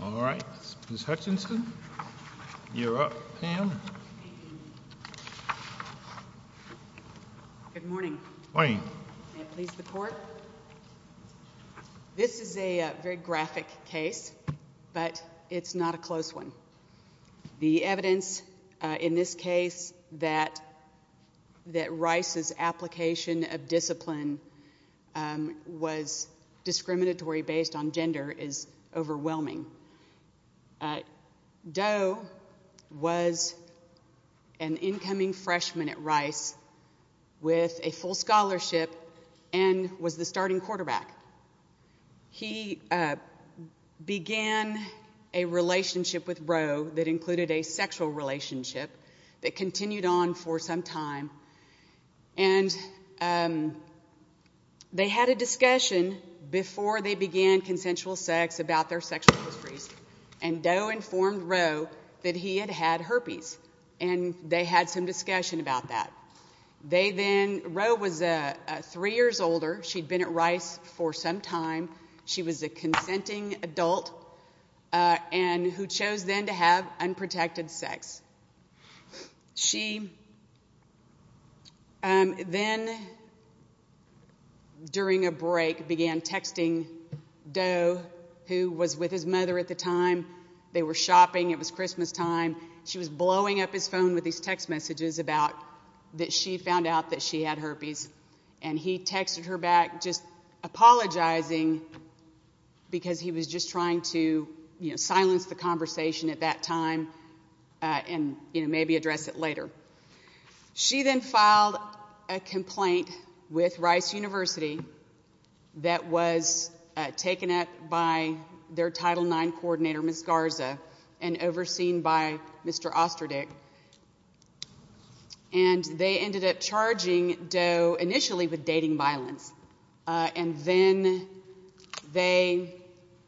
All right, Ms. Hutchinson, you're up, Pam. Good morning. Good morning. May it please the Court. This is a very graphic case, but it's not a close one. The evidence in this case that Rice's application of discipline was discriminatory based on gender is overwhelming. Doe was an incoming freshman at Rice with a full scholarship and was the starting quarterback. He began a relationship with Roe that included a sexual relationship that continued on for some time, and they had a discussion before they began consensual sex about their sexual histories, and Doe informed Roe that he had had herpes, and they had some discussion about that. Roe was three years older. She'd been at Rice for some time. She was a consenting adult who chose then to have unprotected sex. She then, during a break, began texting Doe, who was with his mother at the time. They were shopping. It was Christmastime. She was blowing up his phone with these text messages that she found out that she had herpes, and he texted her back just apologizing because he was just trying to silence the conversation at that time and maybe address it later. She then filed a complaint with Rice University that was taken up by their Title IX coordinator, Ms. Garza, and overseen by Mr. Osterdick, and they ended up charging Doe initially with dating violence, and then they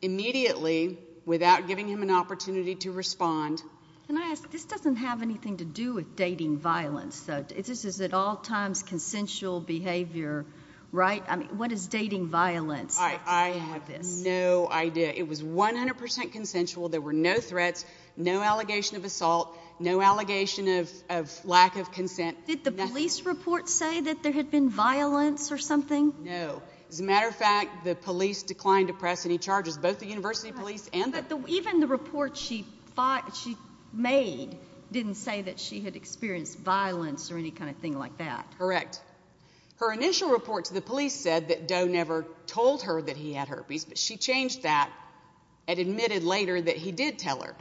immediately, without giving him an opportunity to respond... Can I ask, this doesn't have anything to do with dating violence, though. This is at all times consensual behavior, right? I mean, what does dating violence have to do with this? I have no idea. It was 100% consensual. There were no threats, no allegation of assault, no allegation of lack of consent. Did the police report say that there had been violence or something? No. As a matter of fact, the police declined to press any charges, both the university police and the... But even the report she made didn't say that she had experienced violence or any kind of thing like that. Correct. Her initial report to the police said that Doe never told her that he had herpes, but she changed that and admitted later that he did tell her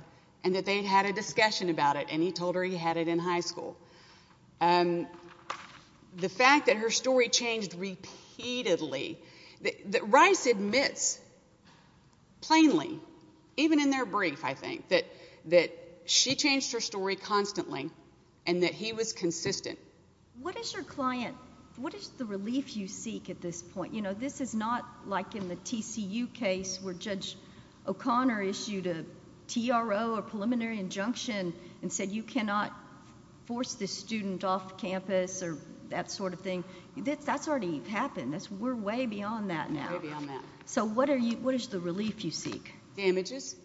and that they'd had a discussion about it, and he told her he had it in high school. The fact that her story changed repeatedly, that Rice admits plainly, even in their brief, I think, that she changed her story constantly and that he was consistent. What is your client... What is the relief you seek at this point? This is not like in the TCU case where Judge O'Connor issued a TRO or preliminary injunction and said you cannot force this student off campus or that sort of thing. That's already happened. We're way beyond that now. Way beyond that. So what is the relief you seek? Damages.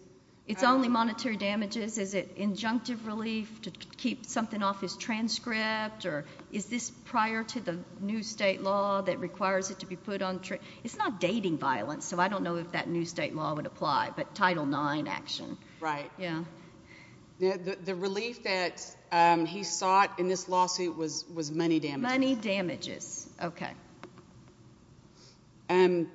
It's only monetary damages? Is it injunctive relief to keep something off his transcript? Is this prior to the new state law that requires it to be put on... It's not dating violence, so I don't know if that new state law would apply, but Title IX action. Right. Yeah. The relief that he sought in this lawsuit was money damages. Money damages. OK. So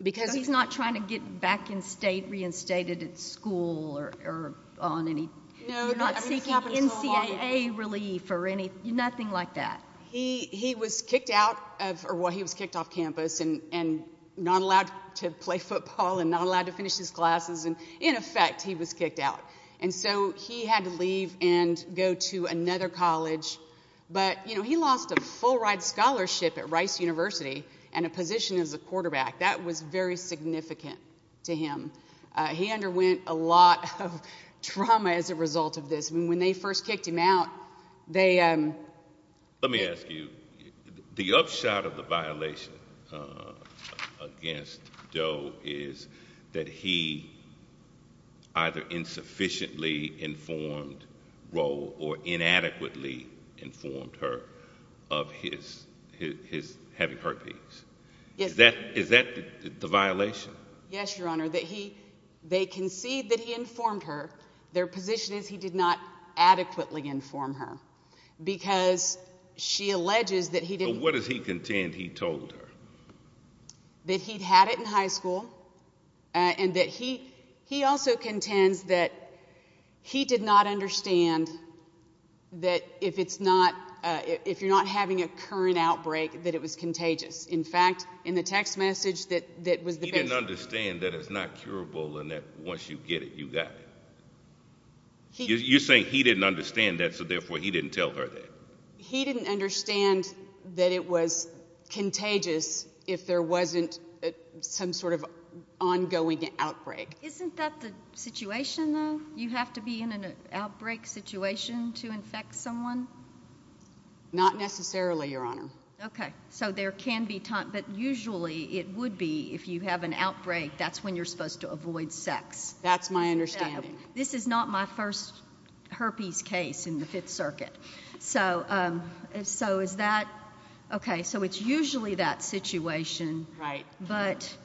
he's not trying to get back in state, reinstated at school or on any... You're not seeking NCAA relief or anything? Nothing like that. He was kicked off campus and not allowed to play football and not allowed to finish his classes. In effect, he was kicked out. And so he had to leave and go to another college. But he lost a full-ride scholarship at Rice University and a position as a quarterback. That was very significant to him. He underwent a lot of trauma as a result of this. When they first kicked him out, they... Let me ask you. The upshot of the violation against Joe is that he either insufficiently informed Roe or inadequately informed her of his having heartbeats. Is that the violation? Yes, Your Honour. They concede that he informed her. Their position is he did not adequately inform her because she alleges that he didn't... But what does he contend he told her? That he'd had it in high school and that he also contends that he did not understand that if you're not having a current outbreak, that it was contagious. In fact, in the text message that was the patient... He didn't understand that it's not curable and that once you get it, you got it. You're saying he didn't understand that, so therefore he didn't tell her that. He didn't understand that it was contagious if there wasn't some sort of ongoing outbreak. Isn't that the situation, though? You have to be in an outbreak situation to infect someone? Not necessarily, Your Honour. Okay, so there can be... But usually it would be if you have an outbreak, that's when you're supposed to avoid sex. That's my understanding. This is not my first herpes case in the Fifth Circuit. So is that... Okay, so it's usually that situation, but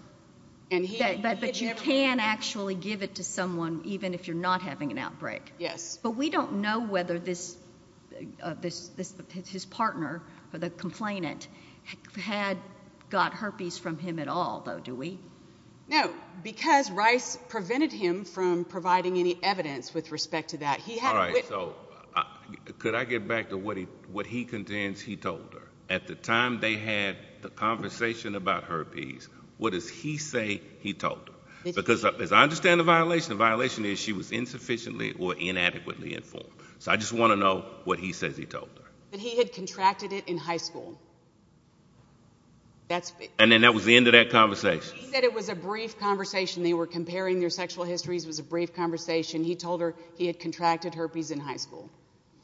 you can actually give it to someone even if you're not having an outbreak. Yes. But we don't know whether his partner or the complainant had got herpes from him at all, though, do we? No, because Rice prevented him from providing any evidence with respect to that. All right, so could I get back to what he contends he told her? At the time they had the conversation about herpes, what does he say he told her? Because as I understand the violation, the violation is she was insufficiently or inadequately informed. So I just want to know what he says he told her. That he had contracted it in high school. And then that was the end of that conversation? He said it was a brief conversation. They were comparing their sexual histories. It was a brief conversation. He told her he had contracted herpes in high school.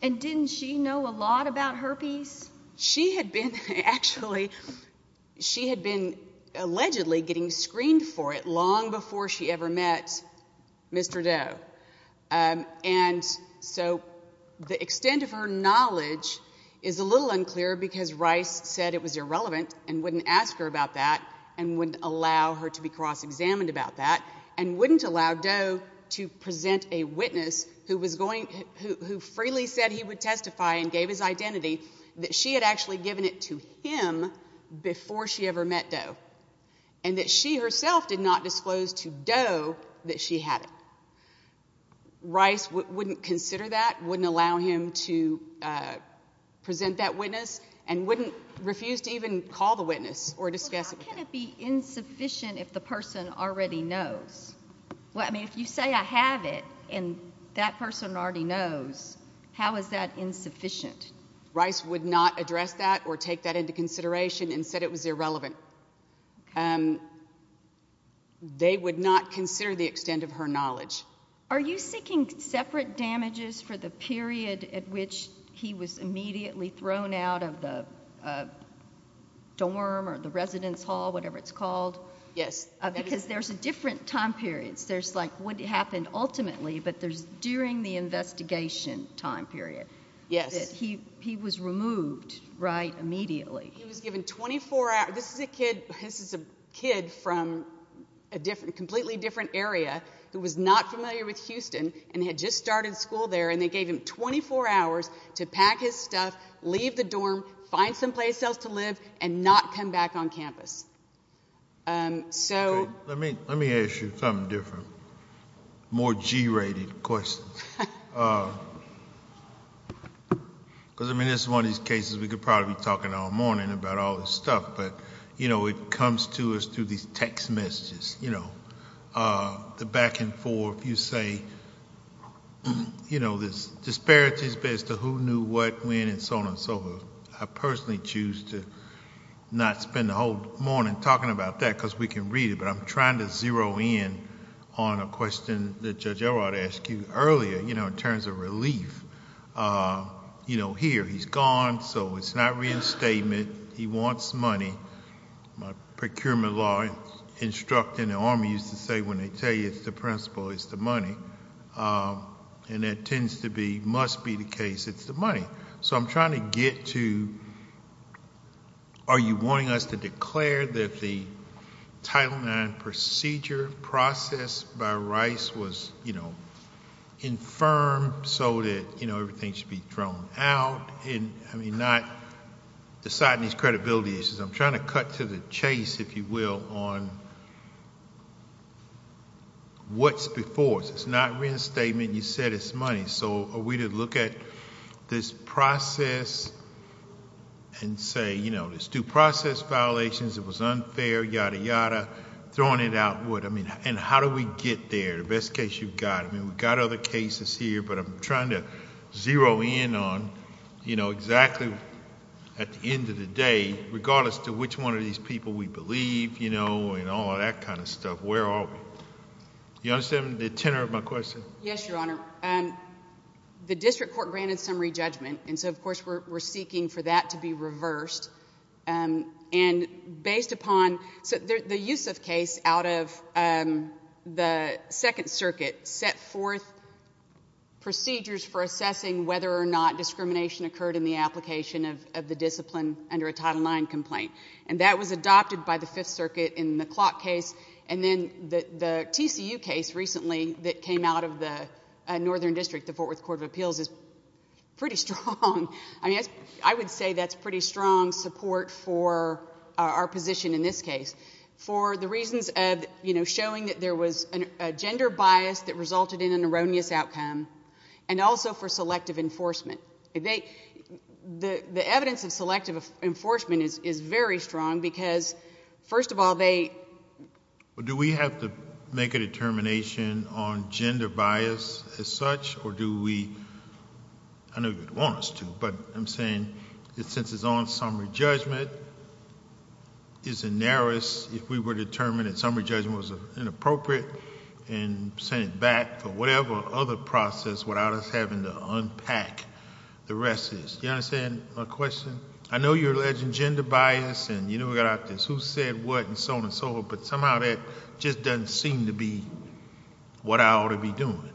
And didn't she know a lot about herpes? She had been, actually, she had been allegedly getting screened for it long before she ever met Mr. Doe. And so the extent of her knowledge is a little unclear because Rice said it was irrelevant and wouldn't ask her about that and wouldn't allow her to be cross-examined about that and wouldn't allow Doe to present a witness who freely said he would testify and gave his identity, that she had actually given it to him before she ever met Doe and that she herself did not disclose to Doe that she had it. Rice wouldn't consider that, wouldn't allow him to present that witness, and wouldn't refuse to even call the witness or discuss it with him. How can it be insufficient if the person already knows? I mean, if you say I have it and that person already knows, how is that insufficient? Rice would not address that or take that into consideration and said it was irrelevant. They would not consider the extent of her knowledge. Are you seeking separate damages for the period at which he was immediately thrown out of the dorm or the residence hall, whatever it's called? Yes. Because there's different time periods. There's, like, what happened ultimately, but there's during the investigation time period. Yes. That he was removed, right, immediately. He was given 24 hours. This is a kid from a completely different area who was not familiar with Houston and had just started school there, and they gave him 24 hours to pack his stuff, leave the dorm, find someplace else to live and not come back on campus. Let me ask you something different, more G-rated questions. Because, I mean, this is one of these cases we could probably be talking all morning about all this stuff, but, you know, it comes to us through these text messages, you know, the back and forth. You say, you know, there's disparities as to who knew what when and so on and so forth. I personally choose to not spend the whole morning talking about that because we can read it, but I'm trying to zero in on a question that Judge Elrod asked you earlier, you know, in terms of relief. You know, here, he's gone, so it's not reinstatement. He wants money. Procurement law instructing the Army used to say when they tell you it's the principal, it's the money. And that tends to be, must be the case, it's the money. So I'm trying to get to, are you wanting us to declare that the Title IX procedure process by Rice was, you know, infirmed so that, you know, everything should be thrown out? I mean, not deciding these credibility issues. I'm trying to cut to the chase, if you will, on what's before us. It's not reinstatement. You said it's money. So are we to look at this process and say, you know, there's due process violations, it was unfair, yada, yada, throwing it out. And how do we get there, the best case you've got? I mean, we've got other cases here, but I'm trying to zero in on, you know, exactly at the end of the day, regardless to which one of these people we believe, you know, and all that kind of stuff, where are we? You understand the tenor of my question? Yes, Your Honor. The district court granted summary judgment, and so, of course, we're seeking for that to be reversed. And based upon the Yusuf case out of the Second Circuit set forth procedures for assessing whether or not discrimination occurred in the application of the discipline under a Title IX complaint. And that was adopted by the Fifth Circuit in the Clock case. And then the TCU case recently that came out of the Northern District, the Fort Worth Court of Appeals, is pretty strong. I mean, I would say that's pretty strong support for our position in this case. For the reasons of, you know, showing that there was a gender bias that resulted in an erroneous outcome, and also for selective enforcement. The evidence of selective enforcement is very strong, because, first of all, they... Do we have to make a determination on gender bias as such, or do we... I know you'd want us to, but I'm saying, since it's on summary judgment, is it narrowest if we were determined that summary judgment was inappropriate and sent it back for whatever other process without us having to unpack the rest of this? You understand my question? I know you're alleging gender bias, and you know we got out this who said what and so on and so forth, but somehow that just doesn't seem to be what I ought to be doing.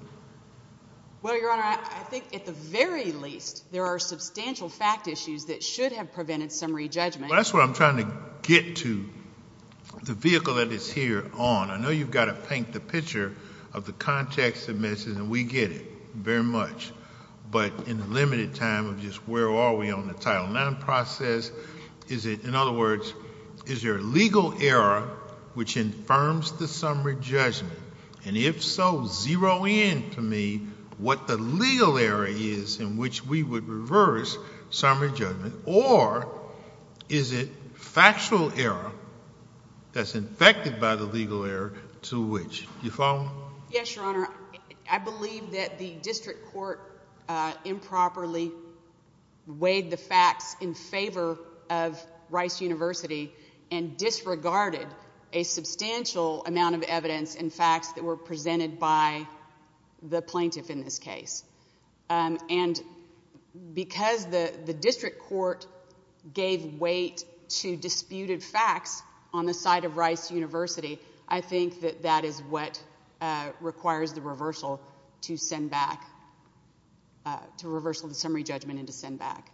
Well, Your Honor, I think at the very least, there are substantial fact issues that should have prevented summary judgment. That's what I'm trying to get to. The vehicle that it's here on, I know you've got to paint the picture of the context of this, and we get it very much, but in the limited time of just where are we on the Title IX process, in other words, is there a legal error which infirms the summary judgment, and if so, zero in to me what the legal error is in which we would reverse summary judgment, or is it factual error that's infected by the legal error to which? Do you follow? Yes, Your Honor. I believe that the district court improperly weighed the facts in favor of Rice University and disregarded a substantial amount of evidence and facts that were presented by the plaintiff in this case, and because the district court gave weight to disputed facts on the side of Rice University, I think that that is what requires the reversal to send back, to reversal the summary judgment and to send back.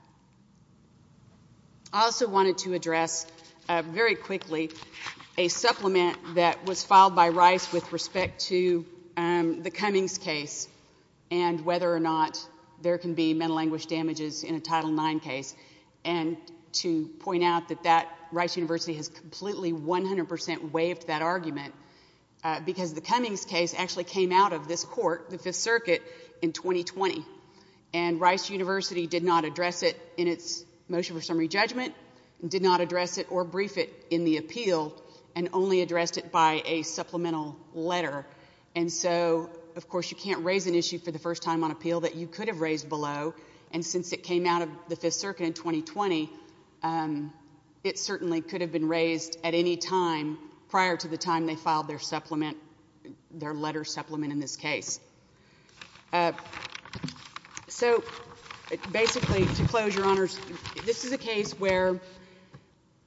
I also wanted to address very quickly a supplement that was filed by Rice with respect to the Cummings case and whether or not there can be mental anguish damages in a Title IX case, and to point out that Rice University has completely 100 percent waived that argument because the Cummings case actually came out of this court, the Fifth Circuit, in 2020, and Rice University did not address it in its motion for summary judgment, did not address it or brief it in the appeal, and only addressed it by a supplemental letter. And so, of course, you can't raise an issue for the first time on appeal that you could have raised below, and since it came out of the Fifth Circuit in 2020, it certainly could have been raised at any time prior to the time they filed their letter supplement in this case. So, basically, to close, Your Honors, this is a case where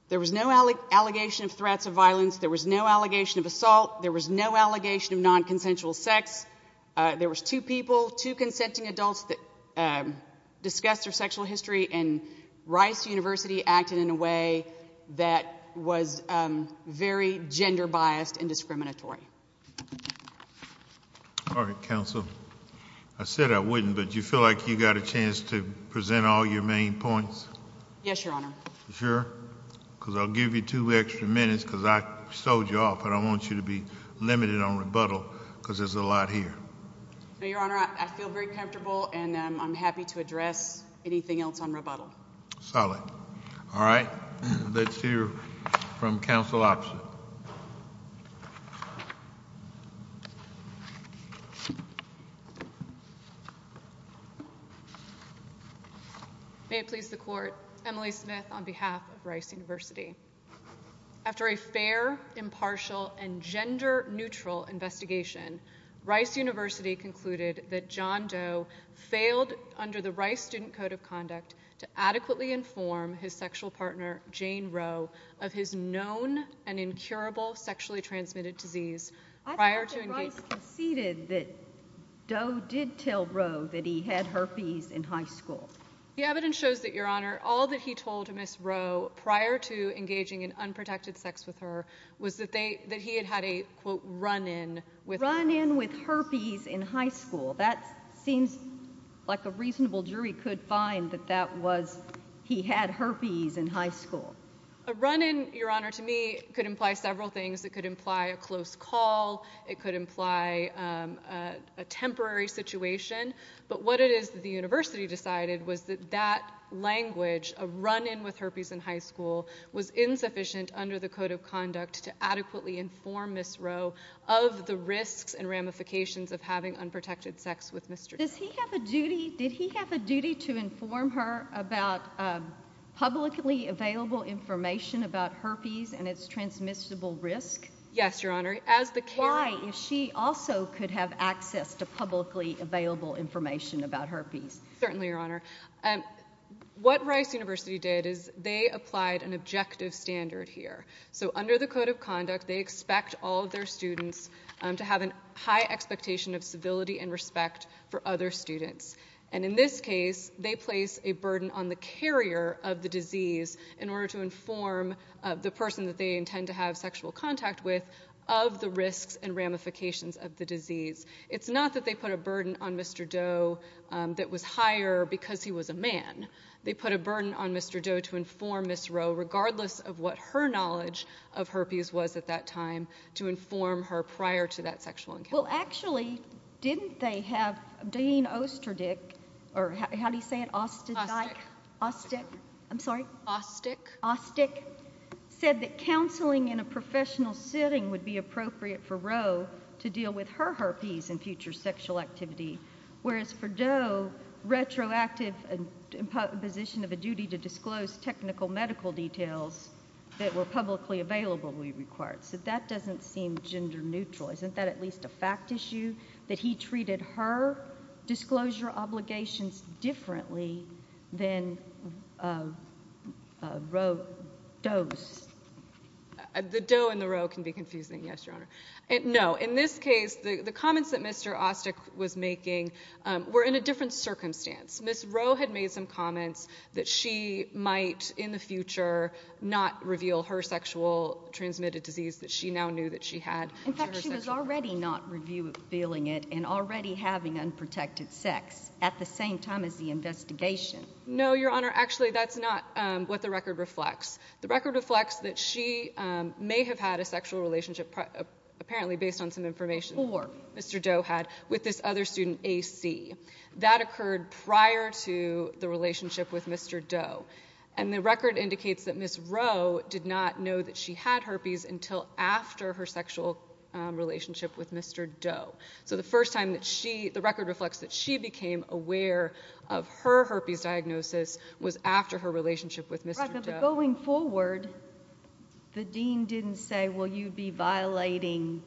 there was no allegation of threats of violence, there was no allegation of assault, there was no allegation of nonconsensual sex, there was two people, two consenting adults that discussed their sexual history, and Rice University acted in a way that was very gender-biased and discriminatory. All right, Counsel. I said I wouldn't, but do you feel like you got a chance to present all your main points? Yes, Your Honor. Sure? Because I'll give you two extra minutes, because I sold you off and I don't want you to be limited on rebuttal, because there's a lot here. No, Your Honor, I feel very comfortable, and I'm happy to address anything else on rebuttal. Solid. All right. Let's hear from Counsel Opsen. May it please the Court, Emily Smith on behalf of Rice University. After a fair, impartial, and gender-neutral investigation, Rice University concluded that John Doe failed under the Rice Student Code of Conduct to adequately inform his sexual partner, Jane Rowe, of his known and incurable sexually transmitted disease prior to engagement. I thought that Rice conceded that Doe did tell Rowe that he had herpes in high school. The evidence shows that, Your Honor, all that he told Ms. Rowe prior to engaging in unprotected sex with her was that he had had a, quote, run-in with herpes. Run-in with herpes in high school. That seems like a reasonable jury could find that that was he had herpes in high school. A run-in, Your Honor, to me could imply several things. It could imply a close call. It could imply a temporary situation. But what it is that the university decided was that that language, a run-in with herpes in high school, was insufficient under the Code of Conduct to adequately inform Ms. Rowe of the risks and ramifications of having unprotected sex with Mr. Doe. Does he have a duty... Did he have a duty to inform her about publicly available information about herpes and its transmissible risk? Yes, Your Honor. Why, if she also could have access to publicly available information about herpes? Certainly, Your Honor. What Rice University did is they applied an objective standard here. So under the Code of Conduct, they expect all of their students to have a high expectation of civility and respect for other students. And in this case, they place a burden on the carrier of the disease in order to inform the person that they intend to have sexual contact with of the risks and ramifications of the disease. It's not that they put a burden on Mr. Doe that was higher because he was a man. They put a burden on Mr. Doe to inform Ms. Rowe, regardless of what her knowledge of herpes was at that time, to inform her prior to that sexual encounter. Well, actually, didn't they have Dane Osterdick, or how do you say it, Osterdike? Osterdick. Osterdick. I'm sorry? Osterdick. Osterdick said that counseling in a professional setting would be appropriate for Rowe to deal with her herpes in future sexual activity, whereas for Doe, retroactive imposition of a duty to disclose technical medical details that were publicly available would be required. So that doesn't seem gender neutral. Isn't that at least a fact issue, that he treated her disclosure obligations differently than Rowe does? The Doe and the Rowe can be confusing, yes, Your Honor. No, in this case, the comments that Mr. Osterdick was making were in a different circumstance. Ms. Rowe had made some comments that she might, in the future, not reveal her sexual transmitted disease that she now knew that she had. In fact, she was already not revealing it and already having unprotected sex at the same time as the investigation. No, Your Honor. Actually, that's not what the record reflects. The record reflects that she may have had a sexual relationship, apparently based on some information Mr. Doe had, with this other student, A.C. That occurred prior to the relationship with Mr. Doe. And the record indicates that Ms. Rowe did not know that she had herpes until after her sexual relationship with Mr. Doe. So the first time the record reflects that she became aware of her herpes diagnosis was after her relationship with Mr. Doe. But going forward, the dean didn't say, well, you'd be violating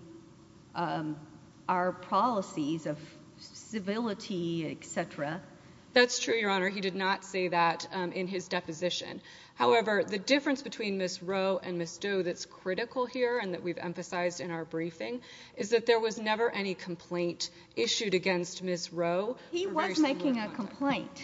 our policies of civility, et cetera. That's true, Your Honor. He did not say that in his deposition. However, the difference between Ms. Rowe and Ms. Doe that's critical here and that we've emphasized in our briefing is that there was never any complaint issued against Ms. Rowe. He was making a complaint.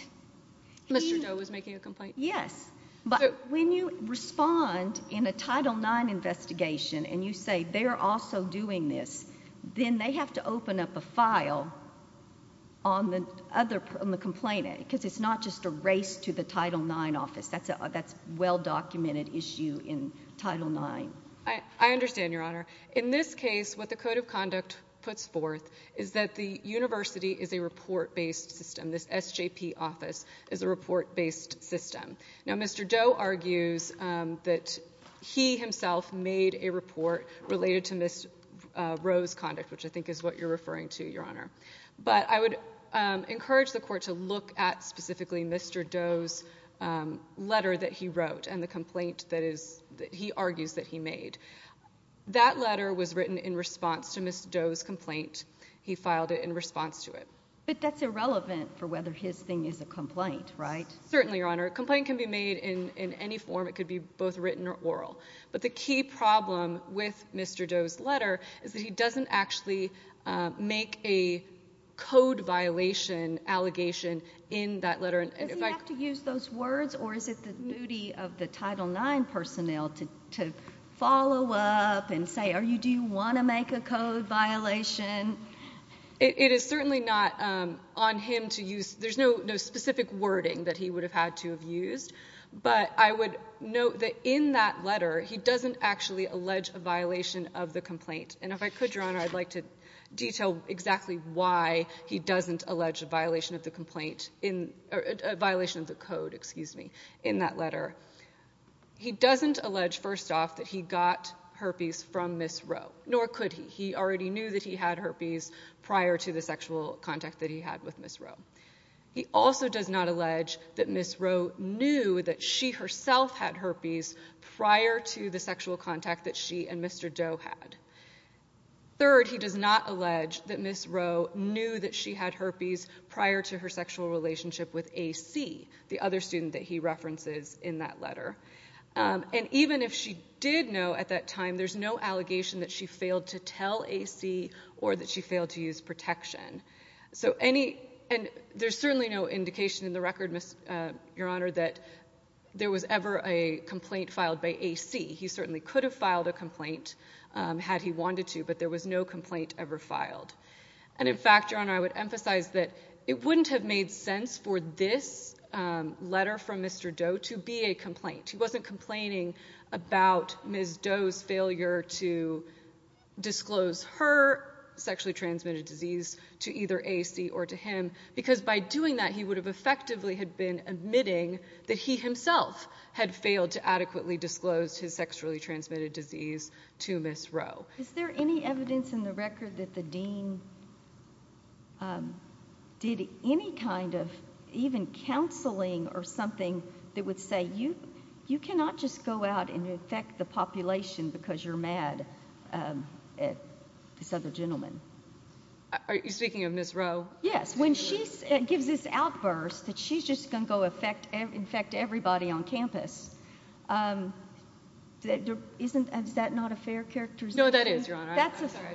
Mr. Doe was making a complaint? Yes. But when you respond in a Title IX investigation and you say they're also doing this, then they have to open up a file on the complainant because it's not just a race to the Title IX office. That's a well-documented issue in Title IX. I understand, Your Honor. In this case, what the Code of Conduct puts forth is that the university is a report-based system. This SJP office is a report-based system. Now, Mr. Doe argues that he himself made a report related to Ms. Rowe's conduct, which I think is what you're referring to, Your Honor. But I would encourage the Court to look at specifically Mr. Doe's letter that he wrote and the complaint that he argues that he made. That letter was written in response to Ms. Doe's complaint. He filed it in response to it. But that's irrelevant for whether his thing is a complaint, right? Certainly, Your Honor. A complaint can be made in any form. It could be both written or oral. But the key problem with Mr. Doe's letter is that he doesn't actually make a code violation allegation in that letter. Does he have to use those words, or is it the duty of the Title IX personnel to follow up and say, do you want to make a code violation? It is certainly not on him to use. There's no specific wording that he would have had to have used. But I would note that in that letter, he doesn't actually allege a violation of the complaint. And if I could, Your Honor, I'd like to detail exactly why he doesn't allege a violation of the complaint, a violation of the code, excuse me, in that letter. He doesn't allege, first off, that he got herpes from Ms. Rowe, nor could he. He already knew that he had herpes prior to the sexual contact that he had with Ms. Rowe. He also does not allege that Ms. Rowe knew that she herself had herpes prior to the sexual contact that she and Mr. Doe had. Third, he does not allege that Ms. Rowe knew that she had herpes prior to her sexual relationship with A.C., the other student that he references in that letter. And even if she did know at that time, there's no allegation that she failed to tell A.C. or that she failed to use protection. And there's certainly no indication in the record, Your Honor, that there was ever a complaint filed by A.C. He certainly could have filed a complaint had he wanted to, but there was no complaint ever filed. And, in fact, Your Honor, I would emphasize that it wouldn't have made sense for this letter from Mr. Doe to be a complaint. He wasn't complaining about Ms. Doe's failure to disclose her sexually transmitted disease to either A.C. or to him, because by doing that he would have effectively been admitting that he himself had failed to adequately disclose his sexually transmitted disease to Ms. Rowe. Is there any evidence in the record that the dean did any kind of even counseling or something that would say, you cannot just go out and infect the population because you're mad at this other gentleman? Are you speaking of Ms. Rowe? Yes. When she gives this outburst that she's just going to go infect everybody on campus, isn't that not a fair characterization? No, that is, Your Honor.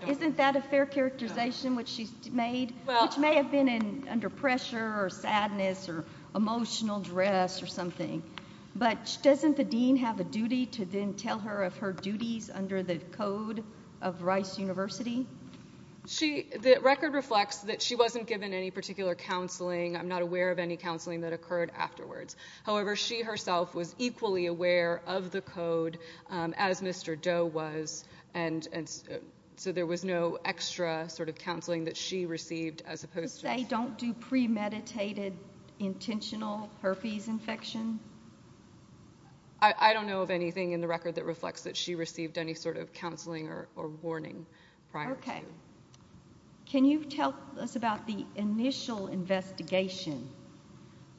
Isn't that a fair characterization which she's made, which may have been under pressure or sadness or emotional duress or something. But doesn't the dean have a duty to then tell her of her duties under the code of Rice University? The record reflects that she wasn't given any particular counseling. I'm not aware of any counseling that occurred afterwards. However, she herself was equally aware of the code, as Mr. Doe was, and so there was no extra sort of counseling that she received as opposed to Just say, don't do premeditated intentional herpes infection. I don't know of anything in the record that reflects that she received any sort of counseling or warning prior to. Okay. Can you tell us about the initial investigation?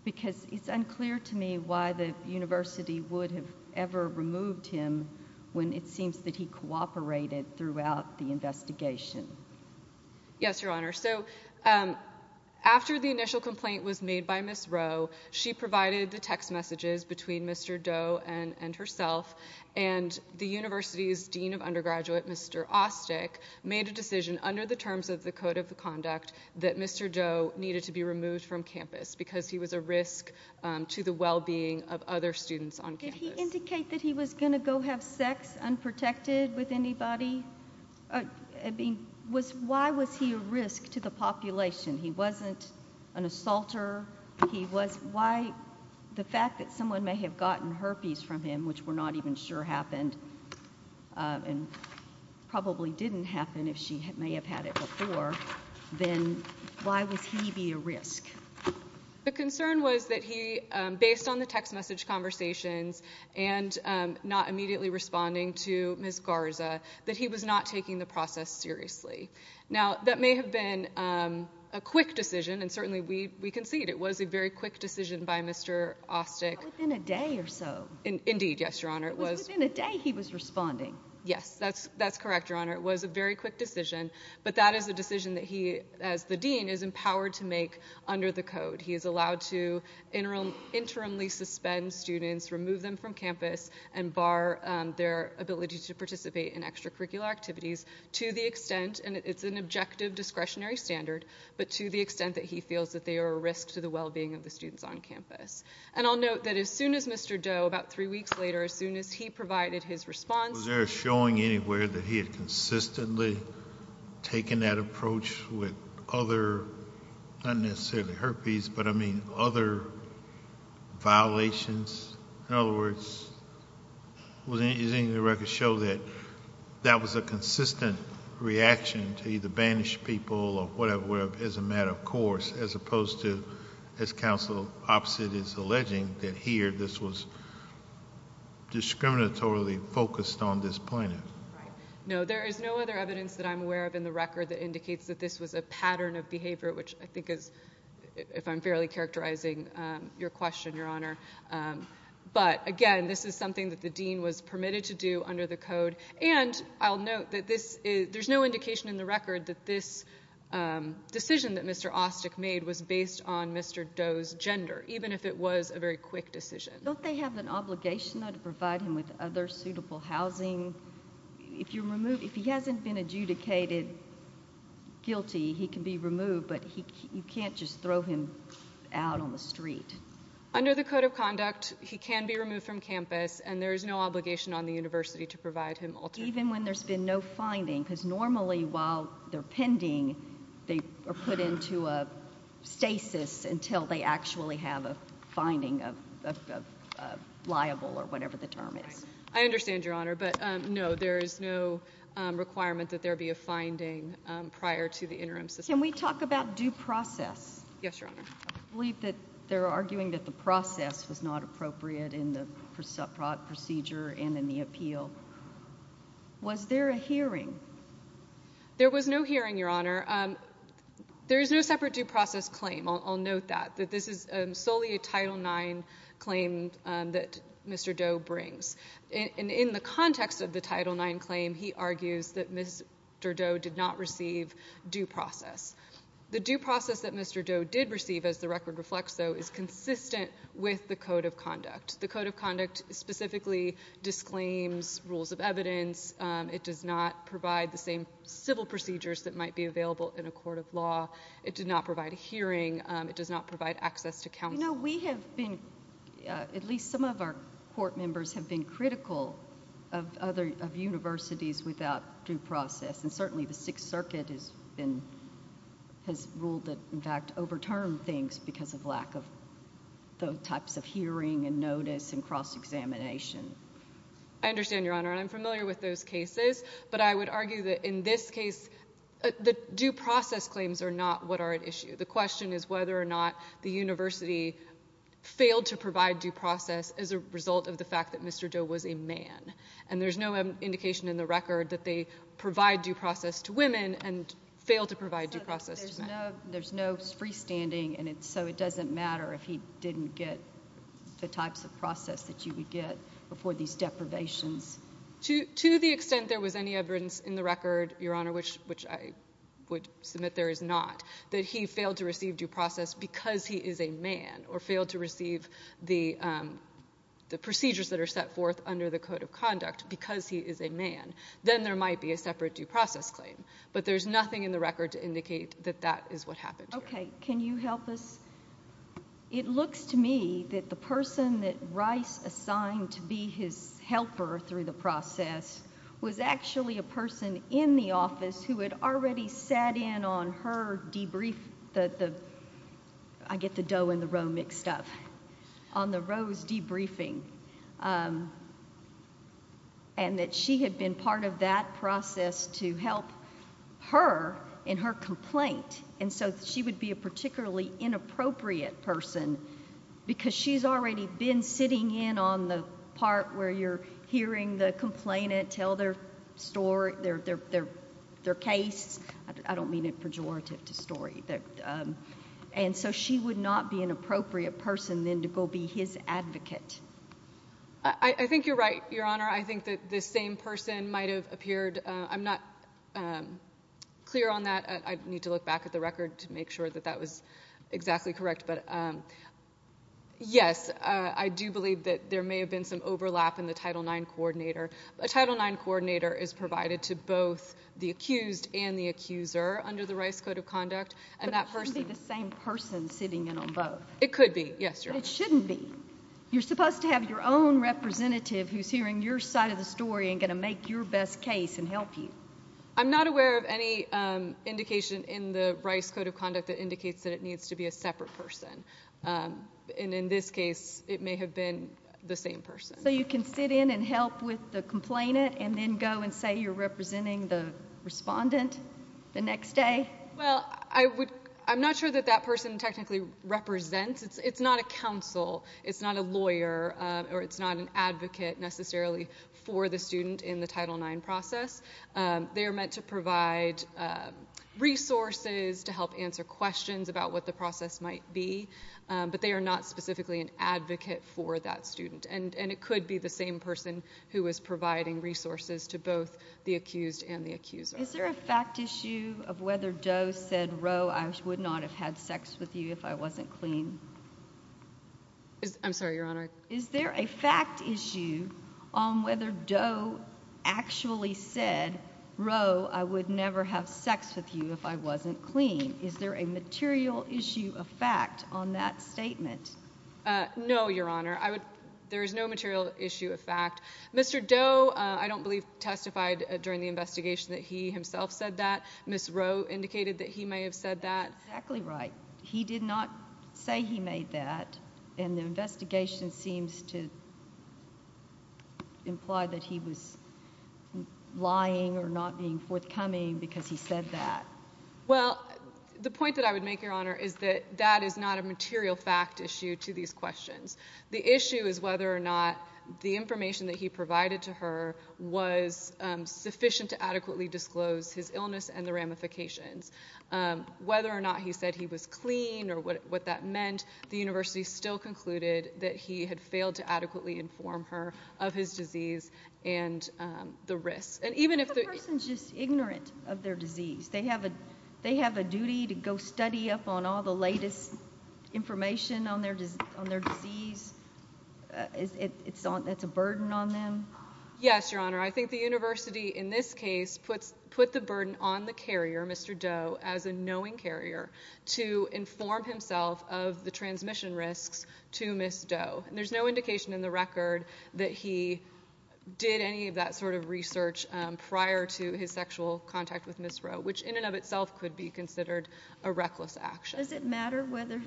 Because it's unclear to me why the university would have ever removed him when it seems that he cooperated throughout the investigation. Yes, Your Honor. So after the initial complaint was made by Ms. Rowe, she provided the text messages between Mr. Doe and herself, and the university's dean of undergraduate, Mr. Ostick, made a decision under the terms of the Code of Conduct that Mr. Doe needed to be removed from campus Did he indicate that he was going to go have sex unprotected with anybody? Why was he a risk to the population? He wasn't an assaulter. The fact that someone may have gotten herpes from him, which we're not even sure happened, and probably didn't happen if she may have had it before, then why would he be a risk? The concern was that he, based on the text message conversations and not immediately responding to Ms. Garza, that he was not taking the process seriously. Now, that may have been a quick decision, and certainly we concede it was a very quick decision by Mr. Ostick. Within a day or so. Indeed, yes, Your Honor. It was within a day he was responding. Yes, that's correct, Your Honor. It was a very quick decision, but that is a decision that he, as the dean, is empowered to make under the code. He is allowed to interimly suspend students, remove them from campus, and bar their ability to participate in extracurricular activities to the extent, and it's an objective discretionary standard, but to the extent that he feels that they are a risk to the well-being of the students on campus. And I'll note that as soon as Mr. Doe, about three weeks later, as soon as he provided his response, was there a showing anywhere that he had consistently taken that approach with other, not necessarily herpes, but, I mean, other violations? In other words, does any of the records show that that was a consistent reaction to either banish people or whatever, as a matter of course, as opposed to, as counsel opposite is alleging, that here this was discriminatorily focused on this plaintiff? Right. No, there is no other evidence that I'm aware of in the record that indicates that this was a pattern of behavior, which I think is, if I'm fairly characterizing your question, Your Honor. But, again, this is something that the dean was permitted to do under the code, and I'll note that there's no indication in the record that this decision that Mr. Austic made was based on Mr. Doe's gender, even if it was a very quick decision. Don't they have an obligation, though, to provide him with other suitable housing? If he hasn't been adjudicated guilty, he can be removed, but you can't just throw him out on the street. Under the Code of Conduct, he can be removed from campus, and there is no obligation on the university to provide him alternative housing. Even when there's been no finding, because normally, while they're pending, they are put into a stasis until they actually have a finding of liable, or whatever the term is. I understand, Your Honor, but, no, there is no requirement that there be a finding prior to the interim system. Can we talk about due process? Yes, Your Honor. I believe that they're arguing that the process was not appropriate in the procedure and in the appeal. Was there a hearing? There was no hearing, Your Honor. There is no separate due process claim. I'll note that. This is solely a Title IX claim that Mr. Doe brings. In the context of the Title IX claim, he argues that Mr. Doe did not receive due process. The due process that Mr. Doe did receive, as the record reflects, though, is consistent with the Code of Conduct. The Code of Conduct specifically disclaims rules of evidence. It does not provide the same civil procedures that might be available in a court of law. It did not provide a hearing. It does not provide access to counsel. You know, we have been, at least some of our court members, have been critical of universities without due process, and certainly the Sixth Circuit has ruled that, in fact, overturned things because of lack of those types of hearing and notice and cross-examination. I understand, Your Honor, and I'm familiar with those cases, but I would argue that in this case the due process claims are not what are at issue. The question is whether or not the university failed to provide due process as a result of the fact that Mr. Doe was a man, and there's no indication in the record that they provide due process to women and fail to provide due process to men. There's no freestanding, and so it doesn't matter if he didn't get the types of process that you would get before these deprivations. To the extent there was any evidence in the record, Your Honor, which I would submit there is not, that he failed to receive due process because he is a man or failed to receive the procedures that are set forth under the Code of Conduct because he is a man, then there might be a separate due process claim. But there's nothing in the record to indicate that that is what happened here. Okay. Can you help us? It looks to me that the person that Rice assigned to be his helper through the process was actually a person in the office who had already sat in on her debrief. I get the Doe and the Roe mixed up. On the Roe's debriefing, and that she had been part of that process to help her in her complaint, and so she would be a particularly inappropriate person because she's already been sitting in on the part where you're hearing the complainant tell their story, their case. I don't mean it pejorative to story. And so she would not be an appropriate person then to go be his advocate. I think you're right, Your Honor. I think that this same person might have appeared. I'm not clear on that. I need to look back at the record to make sure that that was exactly correct. But, yes, I do believe that there may have been some overlap in the Title IX coordinator. A Title IX coordinator is provided to both the accused and the accuser under the Rice Code of Conduct. But it should be the same person sitting in on both. It could be, yes, Your Honor. But it shouldn't be. You're supposed to have your own representative who's hearing your side of the story and going to make your best case and help you. I'm not aware of any indication in the Rice Code of Conduct that indicates that it needs to be a separate person. And in this case, it may have been the same person. So you can sit in and help with the complainant and then go and say you're representing the respondent the next day? Well, I'm not sure that that person technically represents. It's not a counsel. It's not a lawyer or it's not an advocate necessarily for the student in the Title IX process. They are meant to provide resources to help answer questions about what the process might be. But they are not specifically an advocate for that student. And it could be the same person who is providing resources to both the accused and the accuser. Is there a fact issue of whether Doe said, Roe, I would not have had sex with you if I wasn't clean? I'm sorry, Your Honor. Is there a fact issue on whether Doe actually said, Roe, I would never have sex with you if I wasn't clean? Is there a material issue of fact on that statement? No, Your Honor. There is no material issue of fact. Mr. Doe, I don't believe, testified during the investigation that he himself said that. Ms. Roe indicated that he may have said that. That's exactly right. He did not say he made that, and the investigation seems to imply that he was lying or not being forthcoming because he said that. Well, the point that I would make, Your Honor, is that that is not a material fact issue to these questions. The issue is whether or not the information that he provided to her was sufficient to adequately disclose his illness and the ramifications. Whether or not he said he was clean or what that meant, the university still concluded that he had failed to adequately inform her of his disease and the risks. But the person is just ignorant of their disease. They have a duty to go study up on all the latest information on their disease. It's a burden on them. Yes, Your Honor. I think the university, in this case, put the burden on the carrier, Mr. Doe, as a knowing carrier, to inform himself of the transmission risks to Ms. Doe. And there's no indication in the record that he did any of that sort of research prior to his sexual contact with Ms. Doe, which in and of itself could be considered a reckless action. Does it matter whether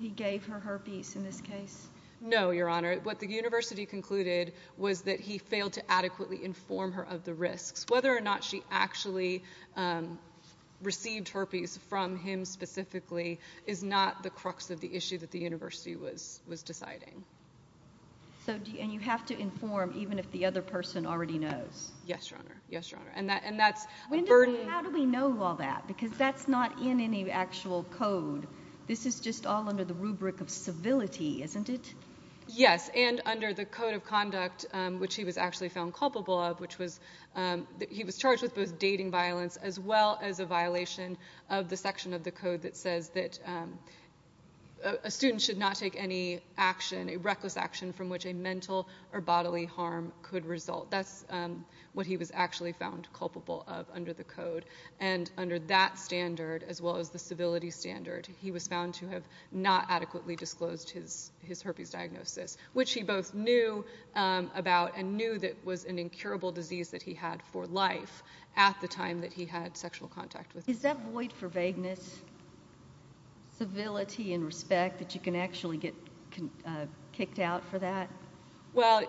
he gave her herpes in this case? No, Your Honor. What the university concluded was that he failed to adequately inform her of the risks. Whether or not she actually received herpes from him specifically is not the crux of the issue that the university was deciding. And you have to inform even if the other person already knows? Yes, Your Honor. How do we know all that? Because that's not in any actual code. This is just all under the rubric of civility, isn't it? Yes, and under the Code of Conduct, which he was actually found culpable of, he was charged with both dating violence as well as a violation of the section of the code that says that a student should not take any action, a reckless action from which a mental or bodily harm could result. That's what he was actually found culpable of under the code. And under that standard as well as the civility standard, he was found to have not adequately disclosed his herpes diagnosis, which he both knew about and knew that was an incurable disease that he had for life at the time that he had sexual contact with her. Is that void for vagueness, civility and respect, that you can actually get kicked out for that? Well,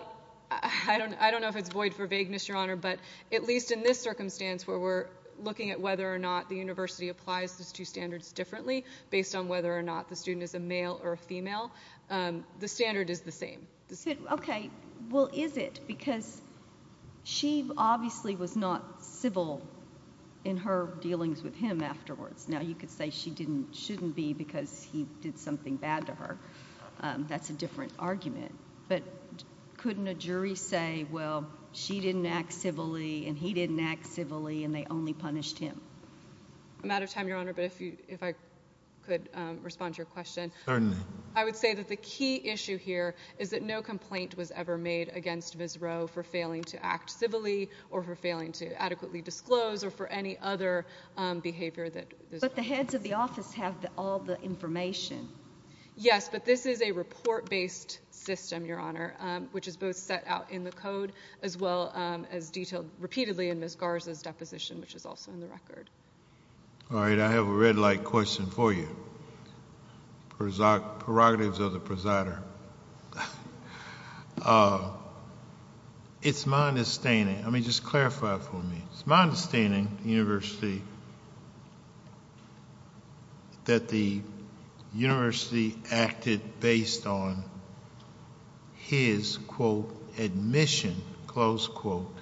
I don't know if it's void for vagueness, Your Honor, but at least in this circumstance where we're looking at whether or not the university applies these two standards differently based on whether or not the student is a male or a female, the standard is the same. Okay, well, is it? Because she obviously was not civil in her dealings with him afterwards. Now, you could say she shouldn't be because he did something bad to her. That's a different argument. But couldn't a jury say, well, she didn't act civilly and he didn't act civilly and they only punished him? I'm out of time, Your Honor, but if I could respond to your question. Certainly. I would say that the key issue here is that no complaint was ever made against Visrow for failing to act civilly or for failing to adequately disclose or for any other behavior that Visrow had. But the heads of the office have all the information. Yes, but this is a report-based system, Your Honor, which is both set out in the code as well as detailed repeatedly in Ms. Garza's deposition, which is also in the record. All right, I have a red light question for you. Prerogatives of the presider. It's my understanding. I mean, just clarify for me. It's my understanding that the university acted based on his, quote, admission, close quote,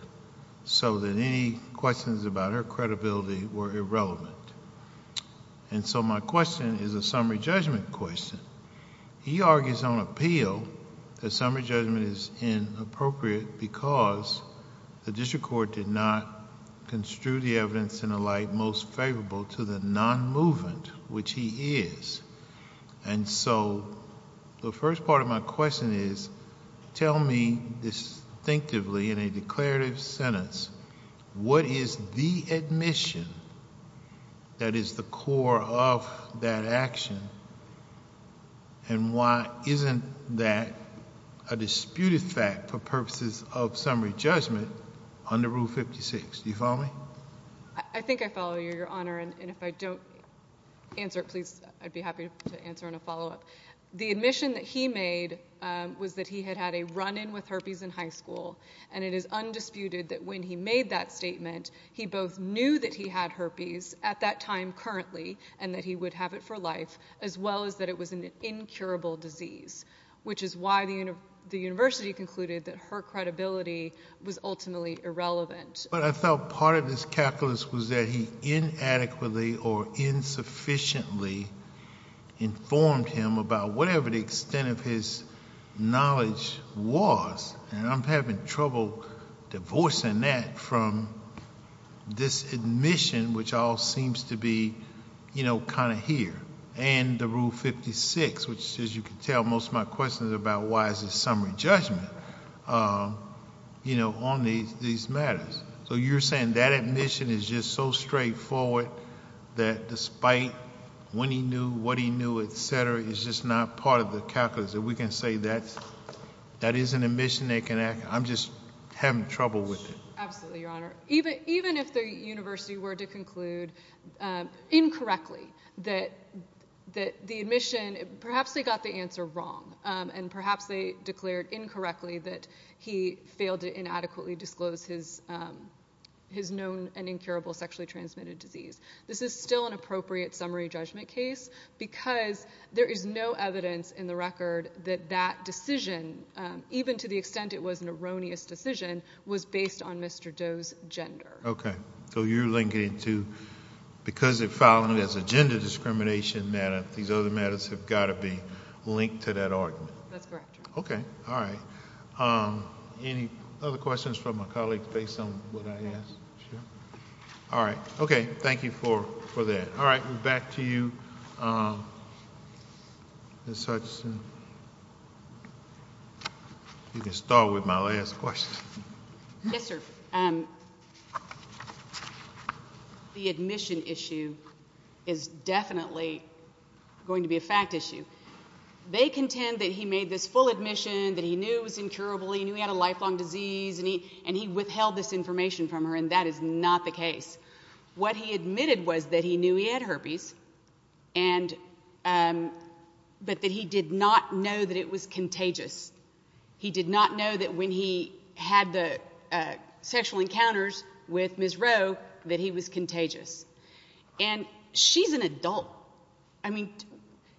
so that any questions about her credibility were irrelevant. And so my question is a summary judgment question. He argues on appeal that summary judgment is inappropriate because the district court did not construe the evidence in a light most favorable to the non-movement, which he is. And so the first part of my question is, tell me distinctively in a declarative sentence, what is the admission that is the core of that action, and why isn't that a disputed fact for purposes of summary judgment under Rule 56? Do you follow me? I think I follow you, Your Honor, and if I don't answer it, please, I'd be happy to answer in a follow-up. The admission that he made was that he had had a run-in with herpes in high school, and it is undisputed that when he made that statement, he both knew that he had herpes at that time currently and that he would have it for life, as well as that it was an incurable disease, which is why the university concluded that her credibility was ultimately irrelevant. But I felt part of his calculus was that he inadequately or insufficiently informed him about whatever the extent of his knowledge was. And I'm having trouble divorcing that from this admission, which all seems to be kind of here, and the Rule 56, which, as you can tell, most of my questions are about why is this summary judgment on these matters. So you're saying that admission is just so straightforward that despite when he knew, what he knew, et cetera, it's just not part of the calculus that we can say that that is an admission they can act on? I'm just having trouble with it. Absolutely, Your Honor. Even if the university were to conclude incorrectly that the admission, perhaps they got the answer wrong, and perhaps they declared incorrectly that he failed to inadequately disclose his known and incurable sexually transmitted disease, this is still an appropriate summary judgment case because there is no evidence in the record that that decision, even to the extent it was an erroneous decision, was based on Mr. Doe's gender. Okay. So you're linking it to because they're filing it as a gender discrimination matter, these other matters have got to be linked to that argument. That's correct, Your Honor. Okay. All right. Any other questions from my colleagues based on what I asked? Sure. All right. Okay. Thank you for that. All right. Back to you, Ms. Hutchison. You can start with my last question. Yes, sir. The admission issue is definitely going to be a fact issue. They contend that he made this full admission, that he knew it was incurable, he knew he had a lifelong disease, and he withheld this information from her, and that is not the case. What he admitted was that he knew he had herpes, but that he did not know that it was contagious. He did not know that when he had the sexual encounters with Ms. Rowe that he was contagious. And she's an adult. I mean,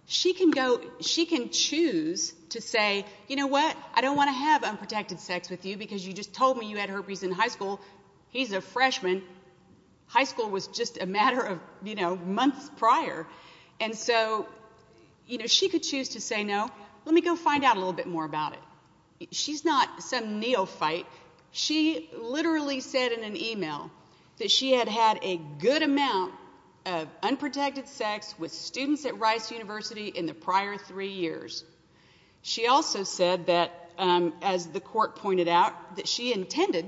she can go, she can choose to say, you know what, I don't want to have unprotected sex with you because you just told me you had herpes in high school. He's a freshman. High school was just a matter of, you know, months prior. And so, you know, she could choose to say, no, let me go find out a little bit more about it. She's not some neophyte. She literally said in an email that she had had a good amount of unprotected sex with students at Rice University in the prior three years. She also said that, as the court pointed out, that she intended,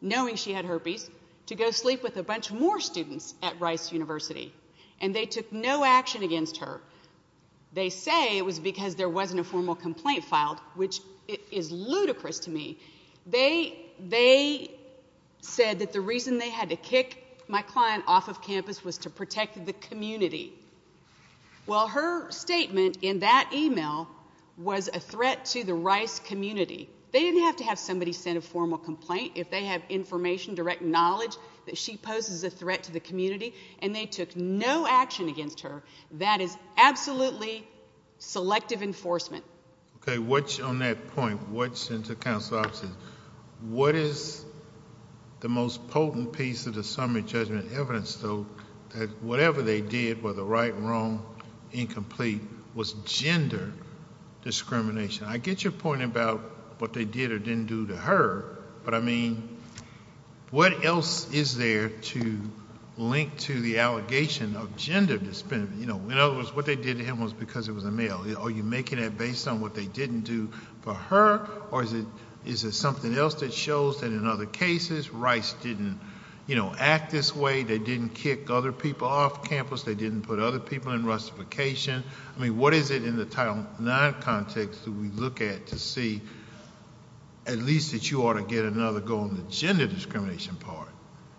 knowing she had herpes, to go sleep with a bunch more students at Rice University, and they took no action against her. They say it was because there wasn't a formal complaint filed, which is ludicrous to me. They said that the reason they had to kick my client off of campus was to protect the community. Well, her statement in that email was a threat to the Rice community. They didn't have to have somebody send a formal complaint if they have information, direct knowledge, that she poses a threat to the community, and they took no action against her. That is absolutely selective enforcement. Okay, what's on that point? What's in the counsel's offices? What is the most potent piece of the summary judgment evidence, though, that whatever they did, whether right, wrong, incomplete, was gender discrimination? I get your point about what they did or didn't do to her, but, I mean, what else is there to link to the allegation of gender discrimination? In other words, what they did to him was because it was a male. Are you making that based on what they didn't do for her, or is it something else that shows that in other cases Rice didn't act this way, they didn't kick other people off campus, they didn't put other people in rustification? I mean, what is it in the Title IX context that we look at to see at least that you ought to get another go on the gender discrimination part?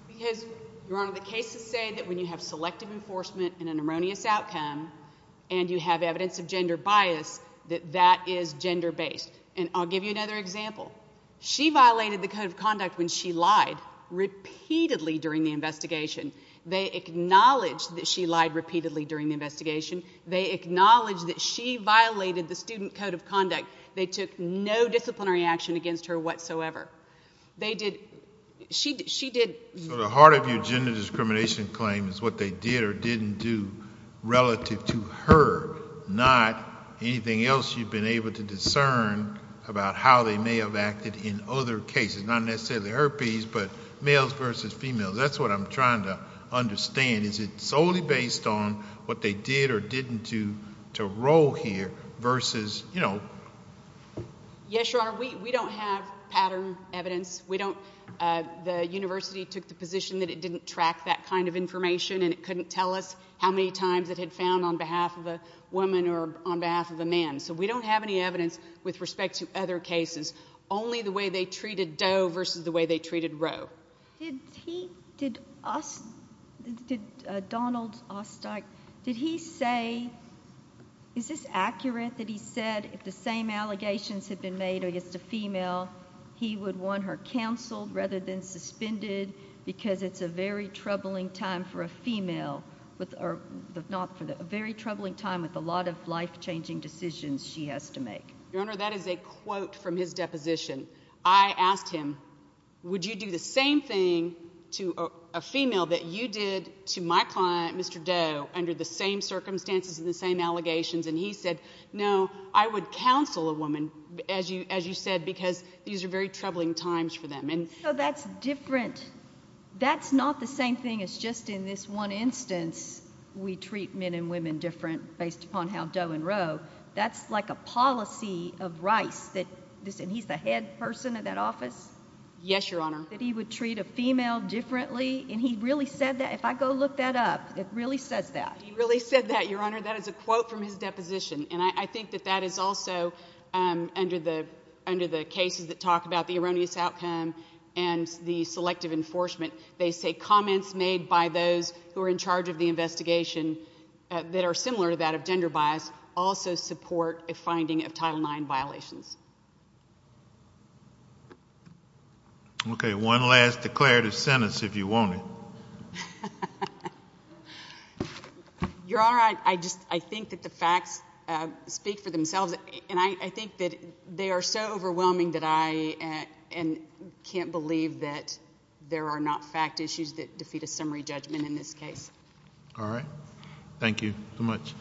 Because, Your Honor, the cases say that when you have selective enforcement and an erroneous outcome and you have evidence of gender bias, that that is gender-based. And I'll give you another example. She violated the code of conduct when she lied repeatedly during the investigation. They acknowledged that she lied repeatedly during the investigation. They acknowledged that she violated the student code of conduct. They took no disciplinary action against her whatsoever. So the heart of your gender discrimination claim is what they did or didn't do relative to her, not anything else you've been able to discern about how they may have acted in other cases, not necessarily herpes, but males versus females. That's what I'm trying to understand. Is it solely based on what they did or didn't do to roll here versus, you know? Yes, Your Honor. We don't have pattern evidence. We don't. The university took the position that it didn't track that kind of information and it couldn't tell us how many times it had found on behalf of a woman or on behalf of a man. So we don't have any evidence with respect to other cases, only the way they treated Doe versus the way they treated Roe. Did he—did Donald Osteich—did he say—is this accurate that he said if the same allegations had been made against a female, he would want her canceled rather than suspended because it's a very troubling time for a female— or not for the—a very troubling time with a lot of life-changing decisions she has to make? Your Honor, that is a quote from his deposition. I asked him, would you do the same thing to a female that you did to my client, Mr. Doe, under the same circumstances and the same allegations? And he said, no, I would counsel a woman, as you said, because these are very troubling times for them. So that's different. That's not the same thing as just in this one instance we treat men and women different based upon how Doe and Roe. That's like a policy of Rice that—and he's the head person of that office? Yes, Your Honor. That he would treat a female differently? And he really said that? If I go look that up, it really says that. He really said that, Your Honor. That is a quote from his deposition. And I think that that is also, under the cases that talk about the erroneous outcome and the selective enforcement, they say comments made by those who are in charge of the investigation that are similar to that of gender bias also support a finding of Title IX violations. Okay, one last declarative sentence, if you want it. Your Honor, I think that the facts speak for themselves, and I think that they are so overwhelming that I can't believe that there are not fact issues that defeat a summary judgment in this case. All right. Thank you so much.